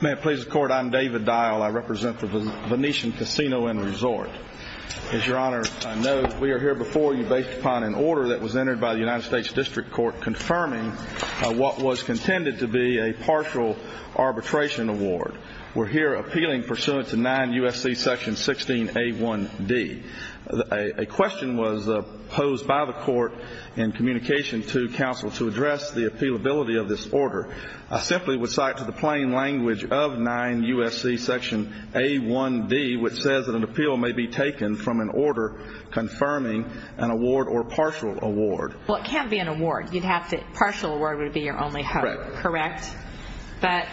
May it please the Court, I'm David Dial. I represent the Venetian Casino and Resort. As Your Honor, I know we are here before you based upon an order that was entered by the United States District Court confirming what was contended to be a partial arbitration award. We're here appealing pursuant to 9 U.S.C. section 16 A.1.D. A question was posed by the Court in communication to counsel to address the appealability of this order. I simply would cite to the plain language of 9 U.S.C. section A.1.D. which says that an appeal may be taken from an order confirming an award or partial award. Well, it can't be an award. Partial award would be your only hope, correct? Correct. But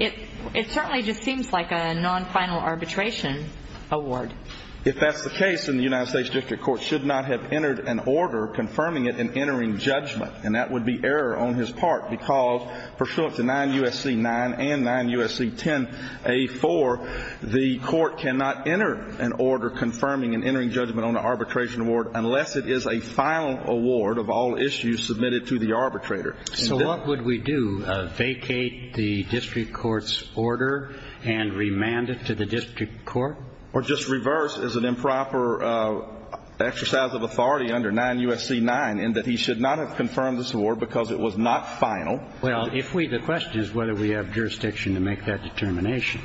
it certainly just seems like a non-final arbitration award. If that's the case, then the United States District Court should not have entered an order confirming it and entering judgment. And that would be error on his part because pursuant to 9 U.S.C. 9 and 9 U.S.C. 10 A.4, the Court cannot enter an order confirming and entering judgment on an arbitration award unless it is a final award of all issues submitted to the arbitrator. So what would we do? Vacate the District Court's order and remand it to the District Court? Or just reverse as an improper exercise of authority under 9 U.S.C. 9 in that he should not have confirmed this award because it was not final? Well, if we – the question is whether we have jurisdiction to make that determination.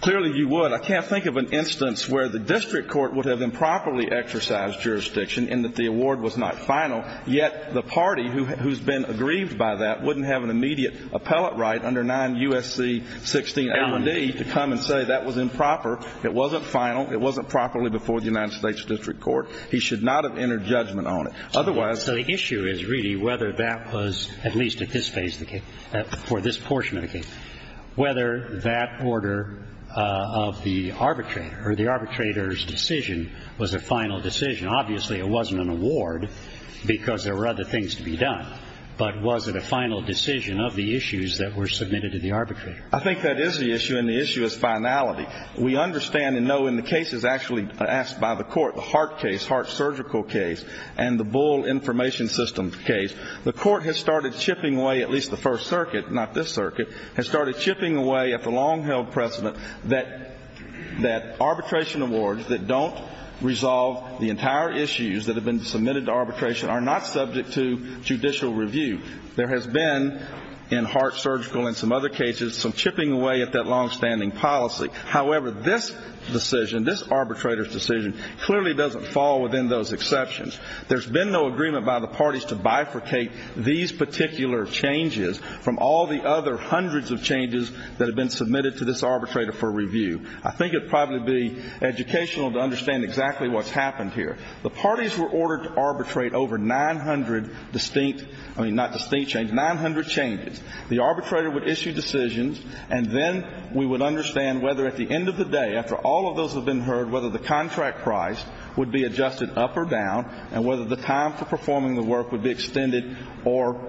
Clearly you would. I can't think of an instance where the District Court would have improperly exercised jurisdiction in that the award was not final, yet the party who's been aggrieved by that wouldn't have an immediate appellate right under 9 U.S.C. 16 A.1.D. to come and say that was improper. It wasn't final. It wasn't properly before the United States District Court. He should not have entered judgment on it. Otherwise – So the issue is really whether that was, at least at this phase of the case, for this portion of the case, whether that order of the arbitrator or the arbitrator's decision was a final decision. Obviously it wasn't an award because there were other things to be done. But was it a final decision of the issues that were submitted to the arbitrator? I think that is the issue, and the issue is finality. We understand and know in the cases actually asked by the court, the Hart case, Hart's surgical case, and the Bull Information Systems case, the court has started chipping away, at least the First Circuit, not this circuit, has started chipping away at the long-held precedent that arbitration awards that don't resolve the entire issues that have been submitted to arbitration are not subject to judicial review. There has been, in Hart's surgical and some other cases, some chipping away at that long-standing policy. However, this decision, this arbitrator's decision, clearly doesn't fall within those exceptions. There's been no agreement by the parties to bifurcate these particular changes from all the other hundreds of changes that have been submitted to this arbitrator for review. I think it would probably be educational to understand exactly what's happened here. The parties were ordered to arbitrate over 900 distinct, I mean, not distinct changes, 900 changes. The arbitrator would issue decisions, and then we would understand whether at the end of the day, after all of those have been heard, whether the contract price would be adjusted up or down, and whether the time for performing the work would be extended or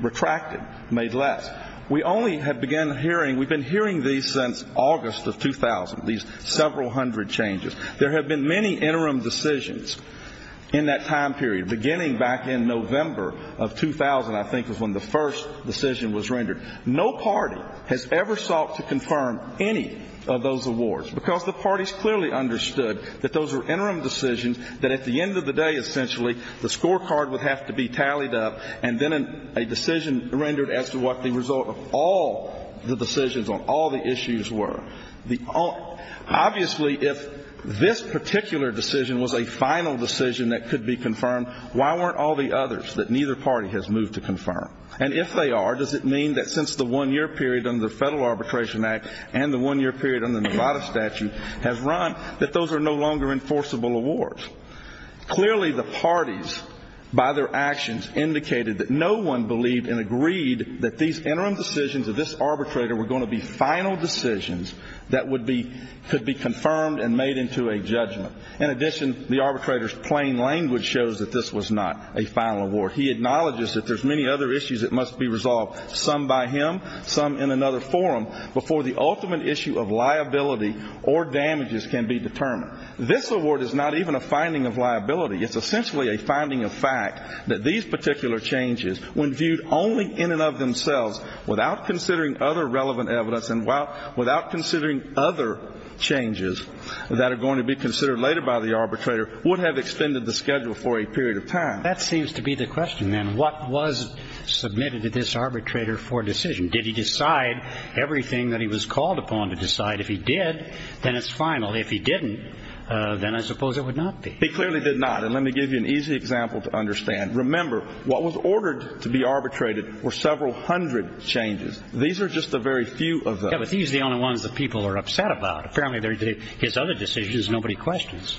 retracted, made less. We only have begun hearing, we've been hearing these since August of 2000, these several hundred changes. There have been many interim decisions in that time period, beginning back in November of 2000, I think, was when the first decision was rendered. No party has ever sought to confirm any of those awards, because the parties clearly understood that those were interim decisions, that at the end of the day, essentially, the scorecard would have to be tallied up, and then a decision rendered as to what the result of all the decisions on all the issues were. Obviously, if this particular decision was a final decision that could be confirmed, why weren't all the others that neither party has moved to confirm? And if they are, does it mean that since the one-year period under the Federal Arbitration Act and the one-year period under the Nevada statute has run, that those are no longer enforceable awards? Clearly, the parties, by their actions, indicated that no one believed and agreed that these interim decisions of this arbitrator were going to be final decisions that could be confirmed and made into a judgment. In addition, the arbitrator's plain language shows that this was not a final award. He acknowledges that there's many other issues that must be resolved, some by him, some in another forum, before the ultimate issue of liability or damages can be determined. This award is not even a finding of liability. It's essentially a finding of fact that these particular changes, when viewed only in and of themselves without considering other relevant evidence and without considering other changes that are going to be considered later by the arbitrator, would have extended the schedule for a period of time. That seems to be the question, then. What was submitted to this arbitrator for decision? Did he decide everything that he was called upon to decide? If he did, then it's final. If he didn't, then I suppose it would not be. He clearly did not. And let me give you an easy example to understand. Remember, what was ordered to be arbitrated were several hundred changes. These are just a very few of those. Yeah, but these are the only ones that people are upset about. Apparently, his other decisions, nobody questions.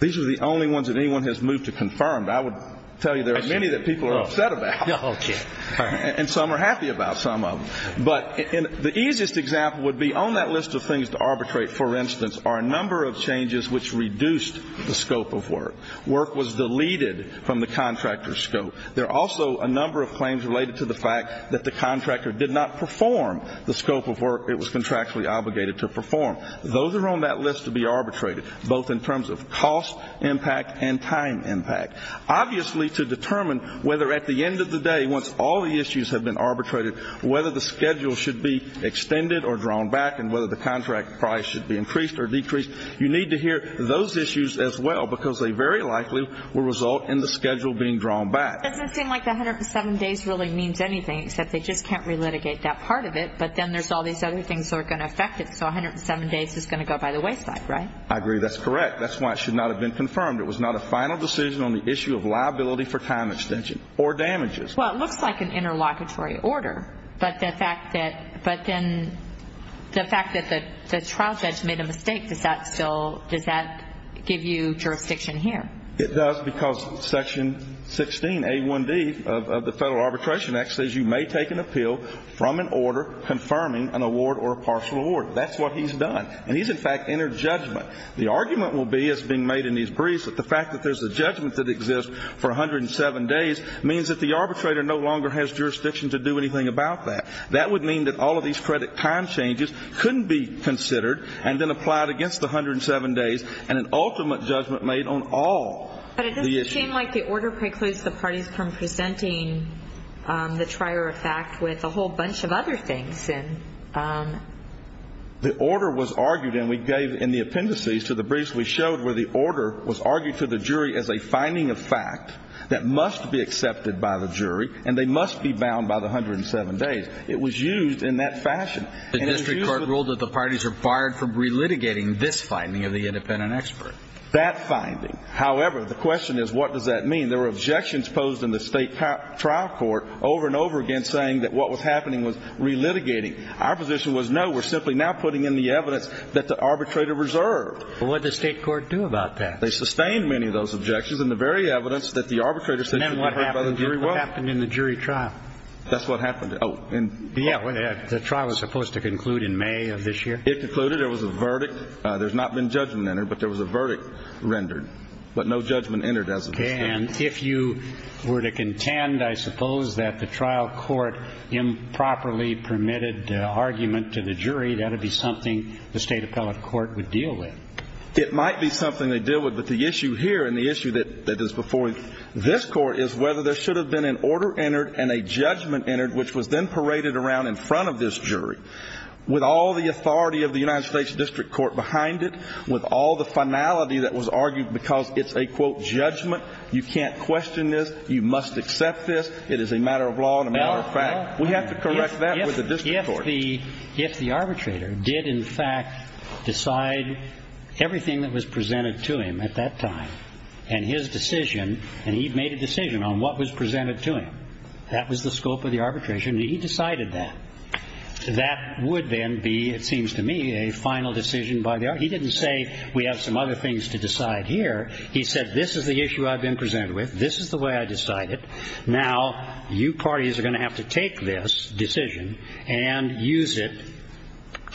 These are the only ones that anyone has moved to confirm. I would tell you there are many that people are upset about. Okay. And some are happy about some of them. But the easiest example would be on that list of things to arbitrate, for instance, are a number of changes which reduced the scope of work. Work was deleted from the contractor's scope. There are also a number of claims related to the fact that the contractor did not perform the scope of work it was contractually obligated to perform. Those are on that list to be arbitrated, both in terms of cost impact and time impact. Obviously, to determine whether at the end of the day, once all the issues have been arbitrated, whether the schedule should be extended or drawn back and whether the contract price should be increased or decreased, you need to hear those issues as well, because they very likely will result in the schedule being drawn back. It doesn't seem like the 107 days really means anything, except they just can't relitigate that part of it, but then there's all these other things that are going to affect it. So 107 days is going to go by the wayside, right? I agree that's correct. That's why it should not have been confirmed. It was not a final decision on the issue of liability for time extension or damages. Well, it looks like an interlocutory order, but the fact that the trial judge made a mistake, does that give you jurisdiction here? It does, because Section 16A1D of the Federal Arbitration Act says you may take an appeal from an order confirming an award or a partial award. That's what he's done, and he's in fact entered judgment. The argument will be, as being made in these briefs, that the fact that there's a judgment that exists for 107 days means that the arbitrator no longer has jurisdiction to do anything about that. That would mean that all of these credit time changes couldn't be considered and then applied against the 107 days and an ultimate judgment made on all the issues. But it doesn't seem like the order precludes the parties from presenting the trier of fact with a whole bunch of other things. The order was argued, and we gave in the appendices to the briefs we showed, where the order was argued to the jury as a finding of fact that must be accepted by the jury and they must be bound by the 107 days. It was used in that fashion. The district court ruled that the parties are fired from relitigating this finding of the independent expert. That finding. However, the question is, what does that mean? There were objections posed in the state trial court over and over again saying that what was happening was relitigating. Our position was, no, we're simply now putting in the evidence that the arbitrator reserved. What did the state court do about that? They sustained many of those objections and the very evidence that the arbitrator said should be heard by the jury. And then what happened in the jury trial? That's what happened. Oh, and yeah. The trial was supposed to conclude in May of this year. It concluded. There was a verdict. And if you were to contend, I suppose, that the trial court improperly permitted argument to the jury, that would be something the state appellate court would deal with. It might be something they deal with. But the issue here and the issue that is before this court is whether there should have been an order entered and a judgment entered, which was then paraded around in front of this jury. With all the authority of the United States district court behind it, with all the finality that was argued because it's a, quote, judgment. You can't question this. You must accept this. It is a matter of law and a matter of fact. We have to correct that with the district court. If the arbitrator did, in fact, decide everything that was presented to him at that time and his decision, and he made a decision on what was presented to him, that was the scope of the arbitration. He decided that. That would then be, it seems to me, a final decision by the arbitrator. He didn't say we have some other things to decide here. He said this is the issue I've been presented with. This is the way I decide it. Now you parties are going to have to take this decision and use it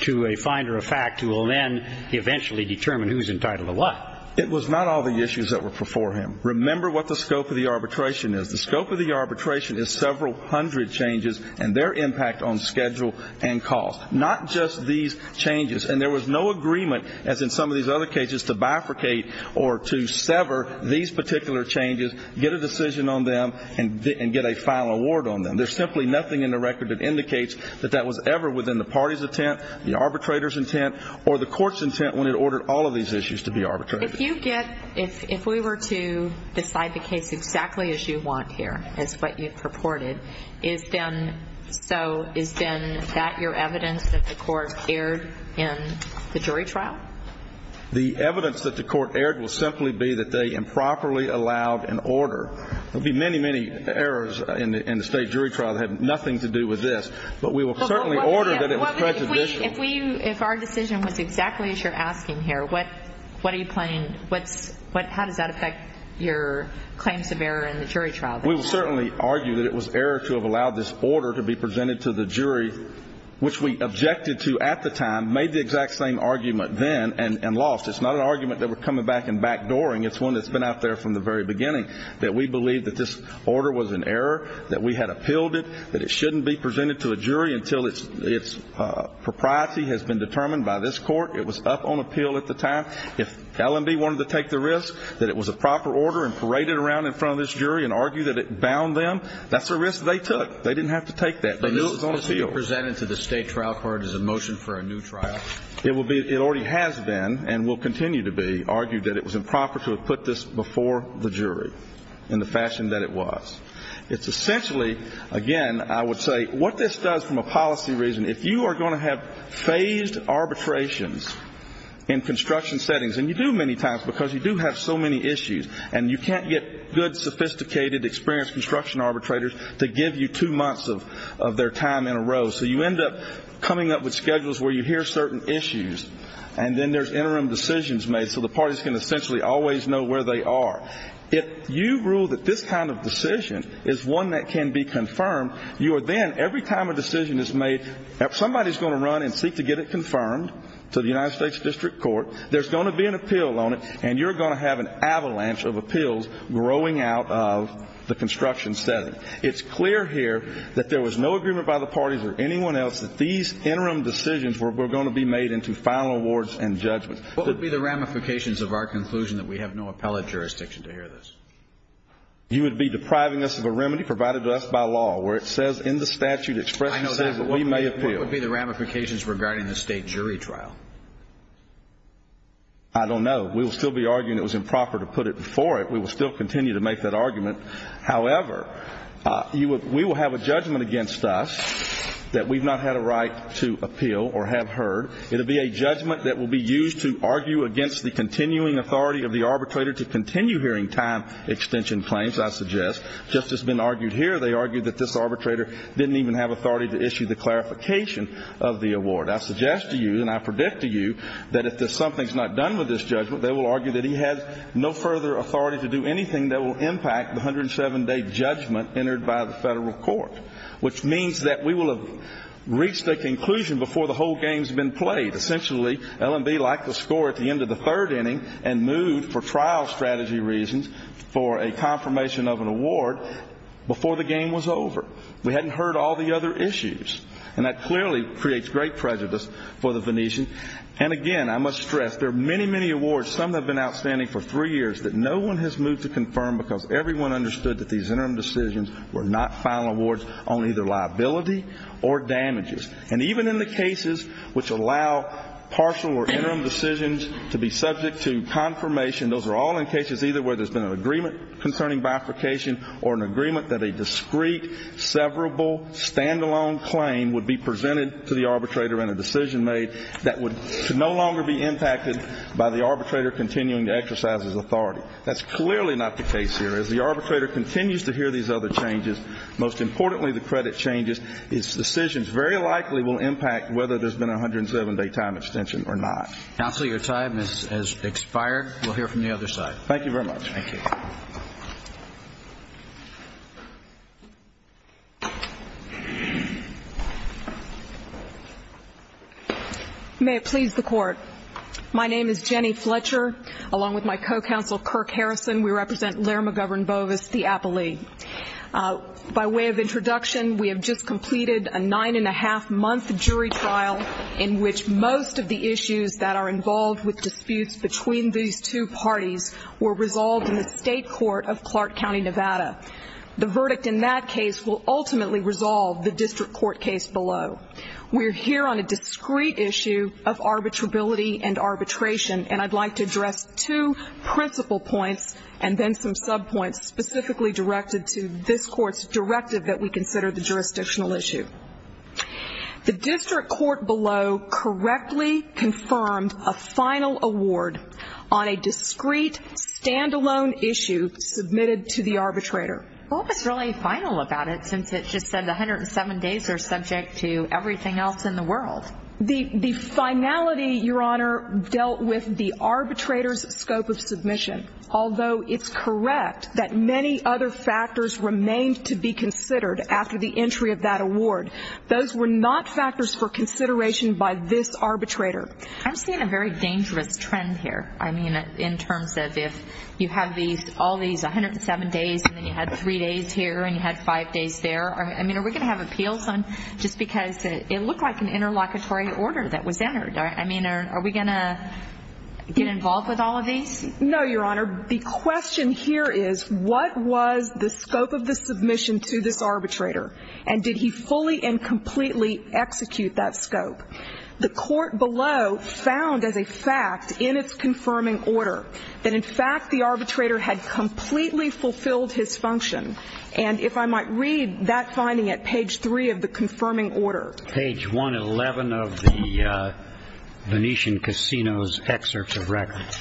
to a finder of fact who will then eventually determine who is entitled to what. It was not all the issues that were before him. Remember what the scope of the arbitration is. The scope of the arbitration is several hundred changes and their impact on schedule and cost. Not just these changes. And there was no agreement, as in some of these other cases, to bifurcate or to sever these particular changes, get a decision on them, and get a final award on them. There's simply nothing in the record that indicates that that was ever within the party's intent, the arbitrator's intent, or the court's intent when it ordered all of these issues to be arbitrated. If you get, if we were to decide the case exactly as you want here, as what you've purported, so is then that your evidence that the court erred in the jury trial? The evidence that the court erred will simply be that they improperly allowed an order. There will be many, many errors in the state jury trial that have nothing to do with this. But we will certainly order that it was prejudicial. If our decision was exactly as you're asking here, what are you planning, how does that affect your claims of error in the jury trial? We will certainly argue that it was error to have allowed this order to be presented to the jury, which we objected to at the time, made the exact same argument then, and lost. It's not an argument that we're coming back and backdooring. It's one that's been out there from the very beginning, that we believe that this order was an error, that we had appealed it, that it shouldn't be presented to a jury until its propriety has been determined by this court. It was up on appeal at the time. If LMB wanted to take the risk that it was a proper order and paraded around in front of this jury and argue that it bound them, that's a risk they took. They didn't have to take that. They knew it was on appeal. But this was presented to the state trial court as a motion for a new trial? It will be. It already has been and will continue to be argued that it was improper to have put this before the jury in the fashion that it was. It's essentially, again, I would say what this does from a policy reason, if you are going to have phased arbitrations in construction settings, and you do many times because you do have so many issues and you can't get good, sophisticated, experienced construction arbitrators to give you two months of their time in a row, so you end up coming up with schedules where you hear certain issues and then there's interim decisions made so the parties can essentially always know where they are. If you rule that this kind of decision is one that can be confirmed, you are then, every time a decision is made, if somebody is going to run and seek to get it confirmed to the United States District Court, there's going to be an appeal on it and you're going to have an avalanche of appeals growing out of the construction setting. It's clear here that there was no agreement by the parties or anyone else that these interim decisions were going to be made into final awards and judgments. What would be the ramifications of our conclusion that we have no appellate jurisdiction to hear this? You would be depriving us of a remedy provided to us by law where it says in the statute, I know that, but what would be the ramifications regarding the state jury trial? I don't know. We will still be arguing it was improper to put it before it. We will still continue to make that argument. However, we will have a judgment against us that we've not had a right to appeal or have heard. It will be a judgment that will be used to argue against the continuing authority of the arbitrator to continue hearing time extension claims, I suggest. Justice has been argued here. They argued that this arbitrator didn't even have authority to issue the clarification of the award. I suggest to you and I predict to you that if something's not done with this judgment, they will argue that he has no further authority to do anything that will impact the 107-day judgment entered by the federal court, which means that we will have reached a conclusion before the whole game has been played. Essentially, LMB liked the score at the end of the third inning and moved for trial strategy reasons for a confirmation of an award before the game was over. We hadn't heard all the other issues, and that clearly creates great prejudice for the Venetians. And, again, I must stress there are many, many awards, some that have been outstanding for three years, that no one has moved to confirm because everyone understood that these interim decisions were not final awards on either liability or damages. And even in the cases which allow partial or interim decisions to be subject to confirmation, those are all in cases either where there's been an agreement concerning bifurcation or an agreement that a discrete, severable, stand-alone claim would be presented to the arbitrator and a decision made that would no longer be impacted by the arbitrator continuing to exercise his authority. That's clearly not the case here. As the arbitrator continues to hear these other changes, most importantly the credit changes, his decisions very likely will impact whether there's been a 107-day time extension or not. Counsel, your time has expired. We'll hear from the other side. Thank you very much. Thank you. May it please the Court. My name is Jenny Fletcher. Along with my co-counsel, Kirk Harrison, we represent Laird McGovern Bovis, the Apple League. By way of introduction, we have just completed a nine-and-a-half-month jury trial in which most of the issues that are involved with disputes between these two parties were resolved in the state court of Clark County, Nevada. The verdict in that case will ultimately resolve the district court case below. We are here on a discrete issue of arbitrability and arbitration, and I'd like to address two principal points and then some sub-points specifically directed to this Court's directive that we consider the jurisdictional issue. The district court below correctly confirmed a final award on a discrete, stand-alone issue submitted to the arbitrator. What was really final about it since it just said the 107 days are subject to everything else in the world? The finality, Your Honor, dealt with the arbitrator's scope of submission, although it's correct that many other factors remained to be considered after the entry of that award. Those were not factors for consideration by this arbitrator. I'm seeing a very dangerous trend here, I mean, in terms of if you have all these 107 days and then you had three days here and you had five days there. I mean, are we going to have appeals just because it looked like an interlocutory order that was entered? I mean, are we going to get involved with all of these? No, Your Honor. The question here is what was the scope of the submission to this arbitrator and did he fully and completely execute that scope? The court below found as a fact in its confirming order that in fact the arbitrator had completely fulfilled his function. And if I might read that finding at page 3 of the confirming order. Page 111 of the Venetian Casino's excerpts of records.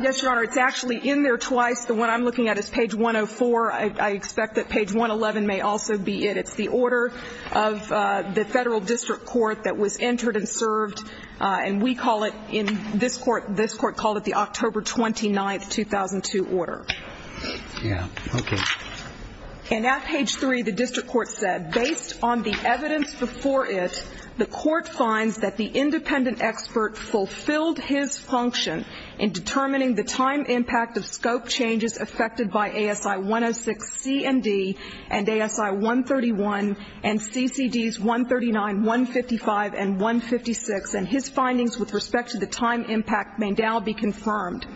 Yes, Your Honor. It's actually in there twice. The one I'm looking at is page 104. I expect that page 111 may also be it. It's the order of the federal district court that was entered and served, and we call it in this court, this court called it the October 29, 2002 order. Yes. Okay. And at page 3, the district court said, based on the evidence before it, the court finds that the independent expert fulfilled his function in determining the time impact of scope changes affected by ASI 106C and D and ASI 131 and CCDs 139, 155, and 156, and his findings with respect to the time impact may now be confirmed.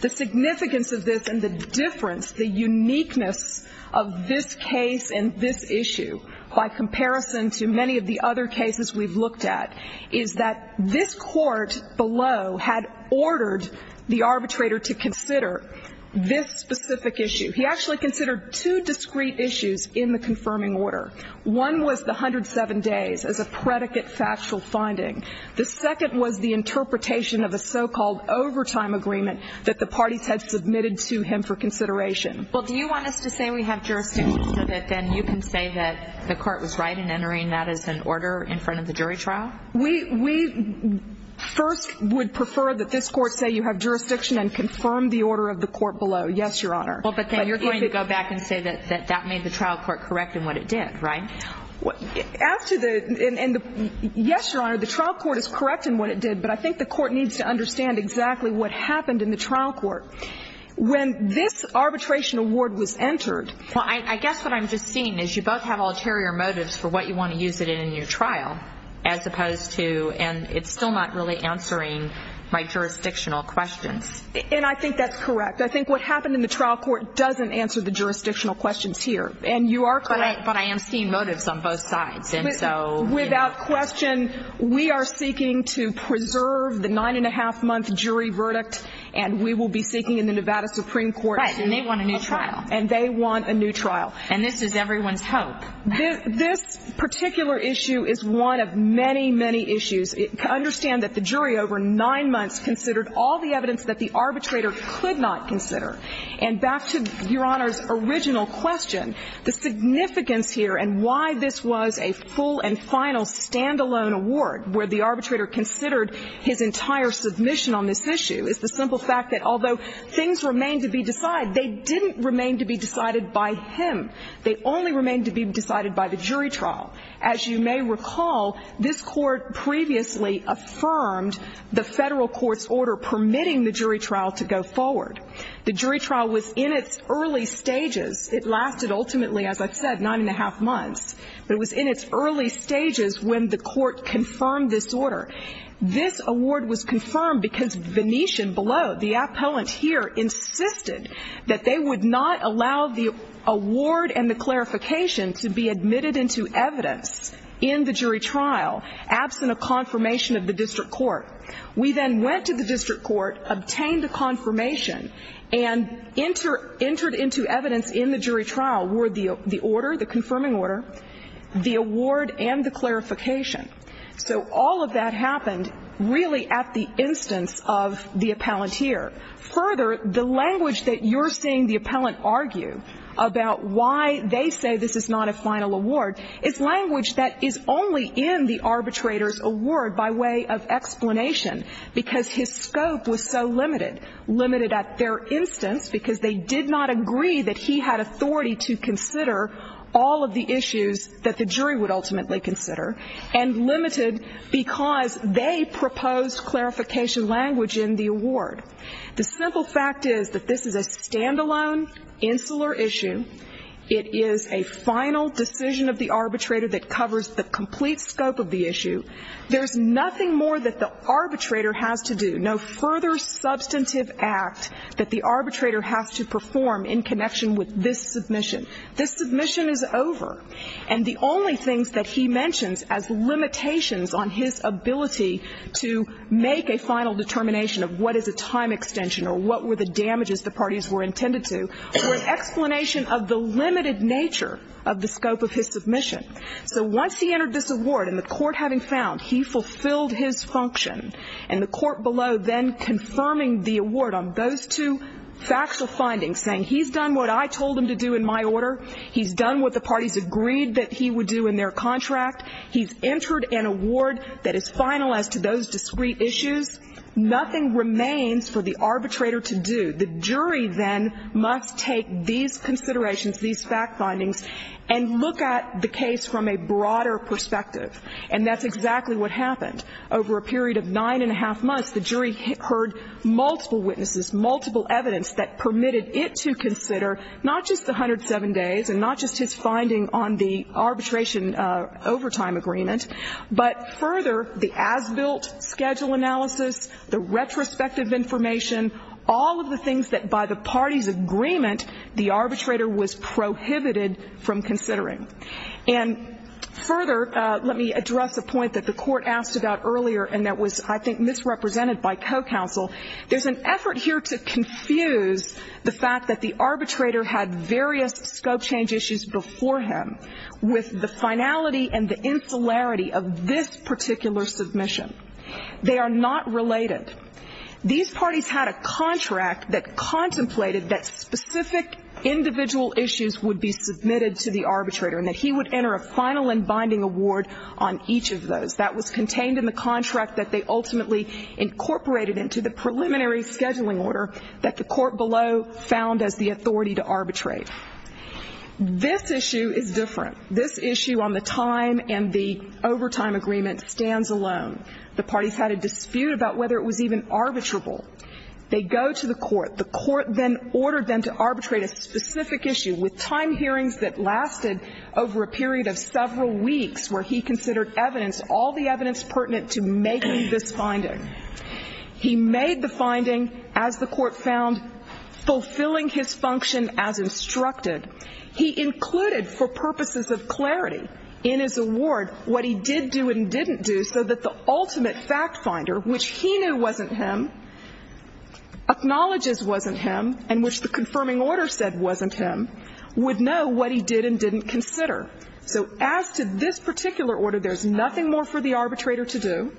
The significance of this and the difference, the uniqueness of this case and this issue, by comparison to many of the other cases we've looked at, is that this court below had ordered the arbitrator to consider this specific issue. He actually considered two discrete issues in the confirming order. One was the 107 days as a predicate factual finding. The second was the interpretation of a so-called overtime agreement that the parties had submitted to him for consideration. Well, do you want us to say we have jurisdiction so that then you can say that the court was right in entering that as an order in front of the jury trial? We first would prefer that this court say you have jurisdiction and confirm the order of the court below. Yes, Your Honor. Well, but then you're going to go back and say that that made the trial court correct in what it did, right? Yes, Your Honor, the trial court is correct in what it did, but I think the court needs to understand exactly what happened in the trial court. When this arbitration award was entered... Well, I guess what I'm just seeing is you both have ulterior motives for what you want to use it in in your trial, as opposed to, and it's still not really answering my jurisdictional questions. And I think that's correct. I think what happened in the trial court doesn't answer the jurisdictional questions here. And you are correct. But I am seeing motives on both sides, and so... Without question, we are seeking to preserve the nine-and-a-half-month jury verdict, and we will be seeking in the Nevada Supreme Court... Right, and they want a new trial. And they want a new trial. And this is everyone's hope. This particular issue is one of many, many issues. Understand that the jury over nine months considered all the evidence that the arbitrator could not consider. And back to Your Honor's original question, the significance here and why this was a full and final stand-alone award, where the arbitrator considered his entire submission on this issue, is the simple fact that although things remained to be decided, they didn't remain to be decided by him. They only remained to be decided by the jury trial. As you may recall, this court previously affirmed the Federal Court's order permitting the jury trial to go forward. The jury trial was in its early stages. It lasted ultimately, as I've said, nine-and-a-half months. But it was in its early stages when the court confirmed this order. This award was confirmed because Venetian below, the appellant here, insisted that they would not allow the award and the clarification to be admitted into evidence in the jury trial, absent a confirmation of the district court. We then went to the district court, obtained the confirmation, and entered into evidence in the jury trial were the order, the confirming order, the award, and the clarification. So all of that happened really at the instance of the appellant here. Further, the language that you're seeing the appellant argue about why they say this is not a final award is language that is only in the arbitrator's award by way of explanation, because his scope was so limited, limited at their instance, because they did not agree that he had authority to consider all of the issues that the jury would ultimately consider, and limited because they proposed clarification language in the award. The simple fact is that this is a standalone, insular issue. It is a final decision of the arbitrator that covers the complete scope of the issue. There's nothing more that the arbitrator has to do, no further substantive act that the arbitrator has to perform in connection with this submission. This submission is over. And the only things that he mentions as limitations on his ability to make a final determination of what is a time extension or what were the damages the parties were intended to or an explanation of the limited nature of the scope of his submission. So once he entered this award, and the Court having found he fulfilled his function, and the Court below then confirming the award on those two factual findings, saying he's done what I told him to do in my order, he's done what the parties agreed that he would do in their contract, he's entered an award that is final as to those discrete issues, nothing remains for the arbitrator to do. The jury then must take these considerations, these fact findings, and look at the case from a broader perspective. And that's exactly what happened. Over a period of nine and a half months, the jury heard multiple witnesses, multiple evidence that permitted it to consider not just the 107 days and not just his finding on the arbitration overtime agreement, but further the as-built schedule analysis, the retrospective information, all of the things that by the parties' agreement the arbitrator was prohibited from considering. And further, let me address a point that the Court asked about earlier and that was I think misrepresented by co-counsel. There's an effort here to confuse the fact that the arbitrator had various scope change issues before him with the finality and the insularity of this particular submission. They are not related. These parties had a contract that contemplated that specific individual issues would be submitted to the arbitrator and that he would enter a final and binding award on each of those. That was contained in the contract that they ultimately incorporated into the preliminary scheduling order that the court below found as the authority to arbitrate. This issue is different. This issue on the time and the overtime agreement stands alone. The parties had a dispute about whether it was even arbitrable. They go to the court. The court then ordered them to arbitrate a specific issue with time hearings that lasted over a period of several weeks where he considered evidence, all the evidence pertinent to making this finding. He made the finding, as the court found, fulfilling his function as instructed. He included for purposes of clarity in his award what he did do and didn't do so that the ultimate fact finder, which he knew wasn't him, acknowledges wasn't him and which the confirming order said wasn't him, would know what he did and didn't consider. So as to this particular order, there's nothing more for the arbitrator to do.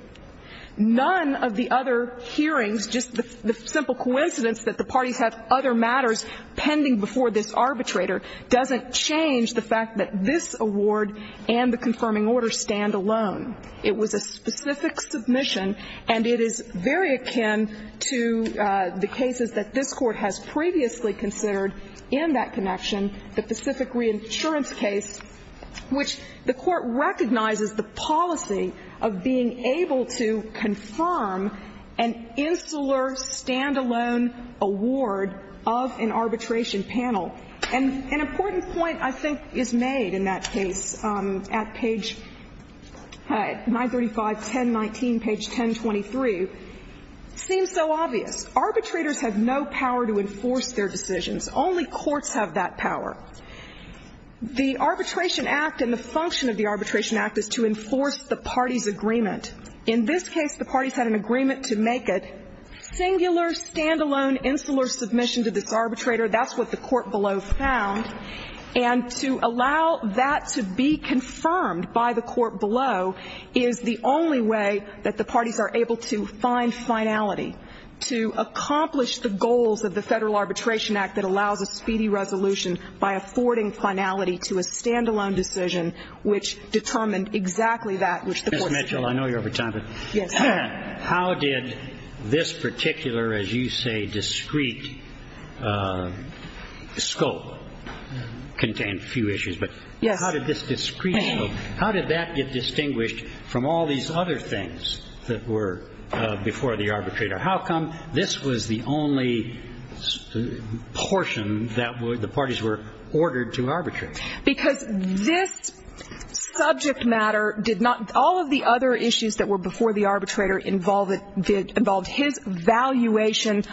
None of the other hearings, just the simple coincidence that the parties have other matters pending before this arbitrator, doesn't change the fact that this award and the confirming order stand alone. It was a specific submission, and it is very akin to the cases that this Court has previously considered in that connection, the Pacific Reinsurance case, which the Court recognizes the policy of being able to confirm an insular, stand-alone award of an arbitration panel. And an important point, I think, is made in that case at page 935, 1019, page 1023. It seems so obvious. Arbitrators have no power to enforce their decisions. Only courts have that power. The Arbitration Act and the function of the Arbitration Act is to enforce the parties' agreement. In this case, the parties had an agreement to make it singular, stand-alone, insular submission to this arbitrator. That's what the court below found. And to allow that to be confirmed by the court below is the only way that the parties are able to find finality, to accomplish the goals of the Federal Arbitration Act that allows a speedy resolution by affording finality to a stand-alone decision which determined exactly that. Ms. Mitchell, I know you're over time, but how did this particular, as you say, discrete scope contain a few issues? But how did this discrete scope, how did that get distinguished from all these other things that were before the arbitrator? How come this was the only portion that the parties were ordered to arbitrate? Because this subject matter did not, all of the other issues that were before the arbitrator involved his valuation,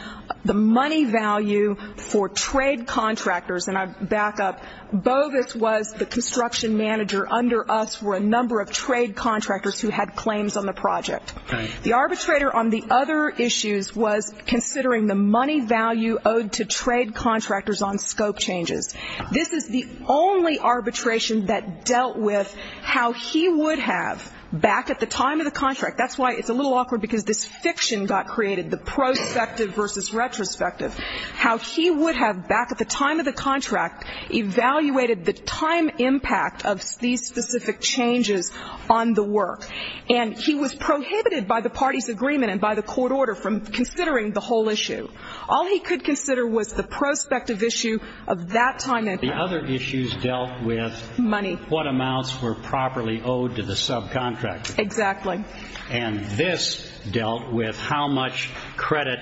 the money value for trade contractors. And I back up. Bovis was the construction manager. Under us were a number of trade contractors who had claims on the project. The arbitrator on the other issues was considering the money value owed to trade contractors on scope changes. This is the only arbitration that dealt with how he would have back at the time of the contract. That's why it's a little awkward because this fiction got created, the prospective versus retrospective. How he would have back at the time of the contract evaluated the time impact of these specific changes on the work. And he was prohibited by the parties' agreement and by the court order from considering the whole issue. All he could consider was the prospective issue of that time. The other issues dealt with what amounts were properly owed to the subcontractor. Exactly. And this dealt with how much credit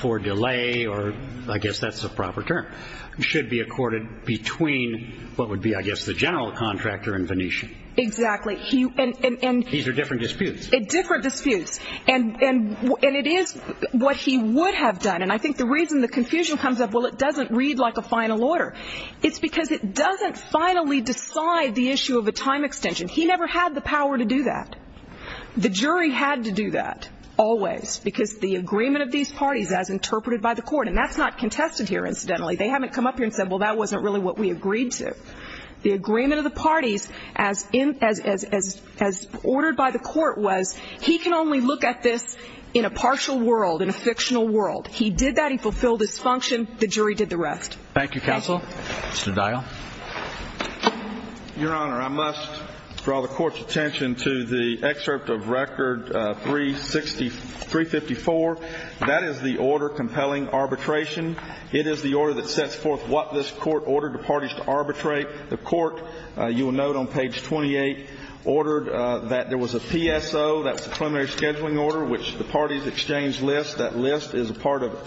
for delay, or I guess that's the proper term, should be accorded between what would be, I guess, the general contractor and Venetian. Exactly. These are different disputes. Different disputes. And it is what he would have done. And I think the reason the confusion comes up, well, it doesn't read like a final order. It's because it doesn't finally decide the issue of a time extension. He never had the power to do that. The jury had to do that, always, because the agreement of these parties, as interpreted by the court, and that's not contested here, incidentally. They haven't come up here and said, well, that wasn't really what we agreed to. The agreement of the parties, as ordered by the court, was he can only look at this in a partial world, in a fictional world. He did that. He fulfilled his function. The jury did the rest. Thank you, counsel. Mr. Dial. Your Honor, I must draw the court's attention to the excerpt of Record 354. That is the order compelling arbitration. It is the order that sets forth what this court ordered the parties to arbitrate. The court, you will note on page 28, ordered that there was a PSO, that's the preliminary scheduling order, which the parties exchanged lists. That list is a part of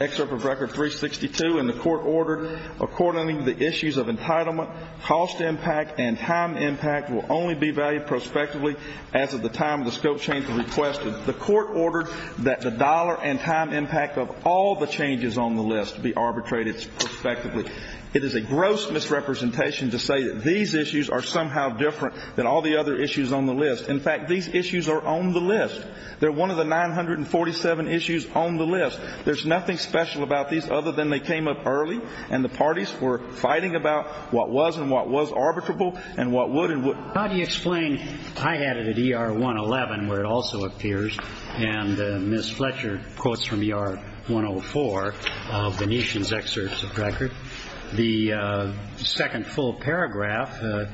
Excerpt of Record 362. And the court ordered, according to the issues of entitlement, cost impact and time impact will only be valued prospectively as of the time the scope change is requested. The court ordered that the dollar and time impact of all the changes on the list be arbitrated prospectively. It is a gross misrepresentation to say that these issues are somehow different than all the other issues on the list. In fact, these issues are on the list. They're one of the 947 issues on the list. There's nothing special about these other than they came up early and the parties were fighting about what was and what was arbitrable and what would and would not. How do you explain I had it at ER 111, where it also appears, and Ms. Fletcher quotes from ER 104 of Venetian's Excerpts of Record, the second full paragraph, the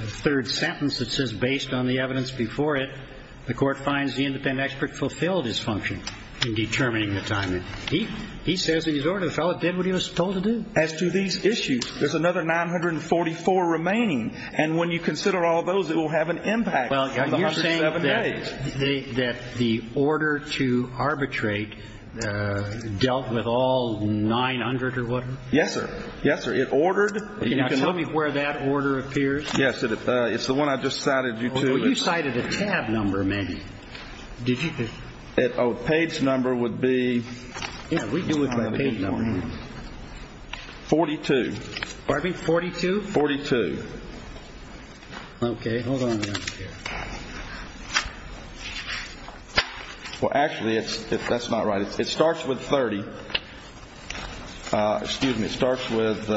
third sentence that says, based on the evidence before it, the court finds the independent expert fulfilled his function in determining the timing. He says in his order, the fellow did what he was told to do. As to these issues, there's another 944 remaining. And when you consider all those, it will have an impact for the 107 days. Well, you're saying that the order to arbitrate dealt with all 900 or whatever? Yes, sir. Yes, sir. It ordered. Can you tell me where that order appears? Yes. It's the one I just cited you to. Well, you cited a tab number, maybe. Did you? A page number would be 42. Pardon me? 42? 42. Okay. Hold on there. Well, actually, that's not right. It starts with 30. Excuse me. It starts with.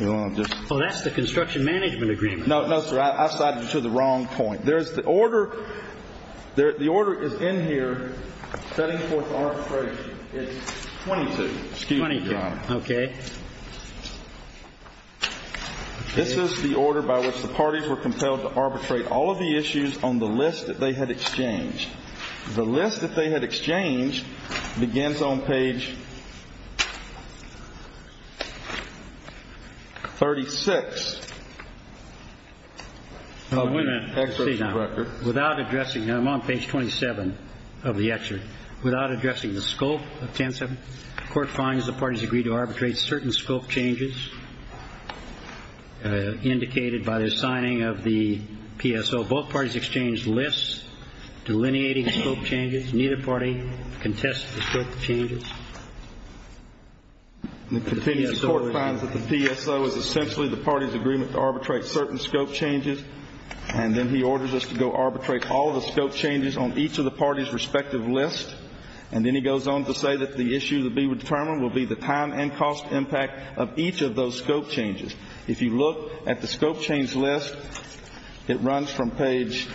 Well, that's the construction management agreement. No, no, sir. I cited you to the wrong point. The order is in here setting forth arbitration. It's 22. 22. Okay. This is the order by which the parties were compelled to arbitrate all of the issues on the list that they had exchanged. The list that they had exchanged begins on page 36. Excuse me now. Without addressing. I'm on page 27 of the excerpt. Without addressing the scope of 10-7, the court finds the parties agreed to arbitrate certain scope changes indicated by the signing of the PSO. Both parties exchanged lists delineating scope changes. Neither party contested the scope changes. The court finds that the PSO is essentially the party's agreement to arbitrate certain scope changes. And then he orders us to go arbitrate all of the scope changes on each of the parties' respective lists. And then he goes on to say that the issue to be determined will be the time and cost impact of each of those scope changes. If you look at the scope change list, it runs from page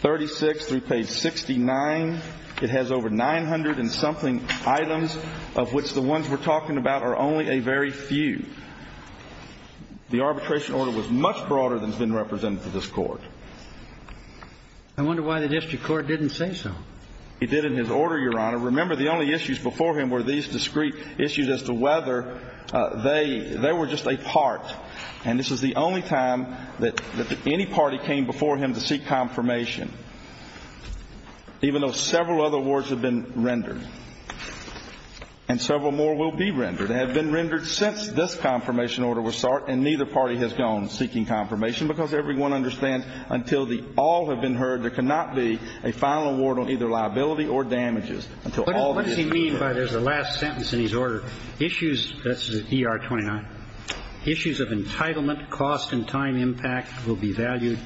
36 through page 69. It has over 900 and something items of which the ones we're talking about are only a very few. The arbitration order was much broader than has been represented to this court. I wonder why the district court didn't say so. It did in his order, Your Honor. Remember, the only issues before him were these discrete issues as to whether they were just a part. And this is the only time that any party came before him to seek confirmation. Even though several other awards have been rendered and several more will be rendered. They have been rendered since this confirmation order was sought, and neither party has gone seeking confirmation because everyone understands until the all have been heard, there cannot be a final award on either liability or damages until all have been heard. What does he mean by there's a last sentence in his order? Issues of entitlement, cost and time impact will be valued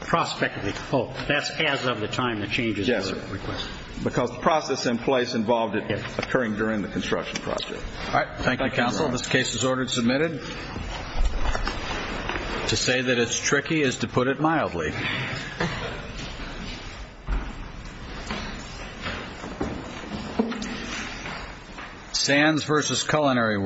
prospectively. Oh, that's as of the time the changes are requested. Because the process in place involved it occurring during the construction process. All right. Thank you, counsel. This case is ordered submitted. To say that it's tricky is to put it mildly. Sands versus Culinary Workers.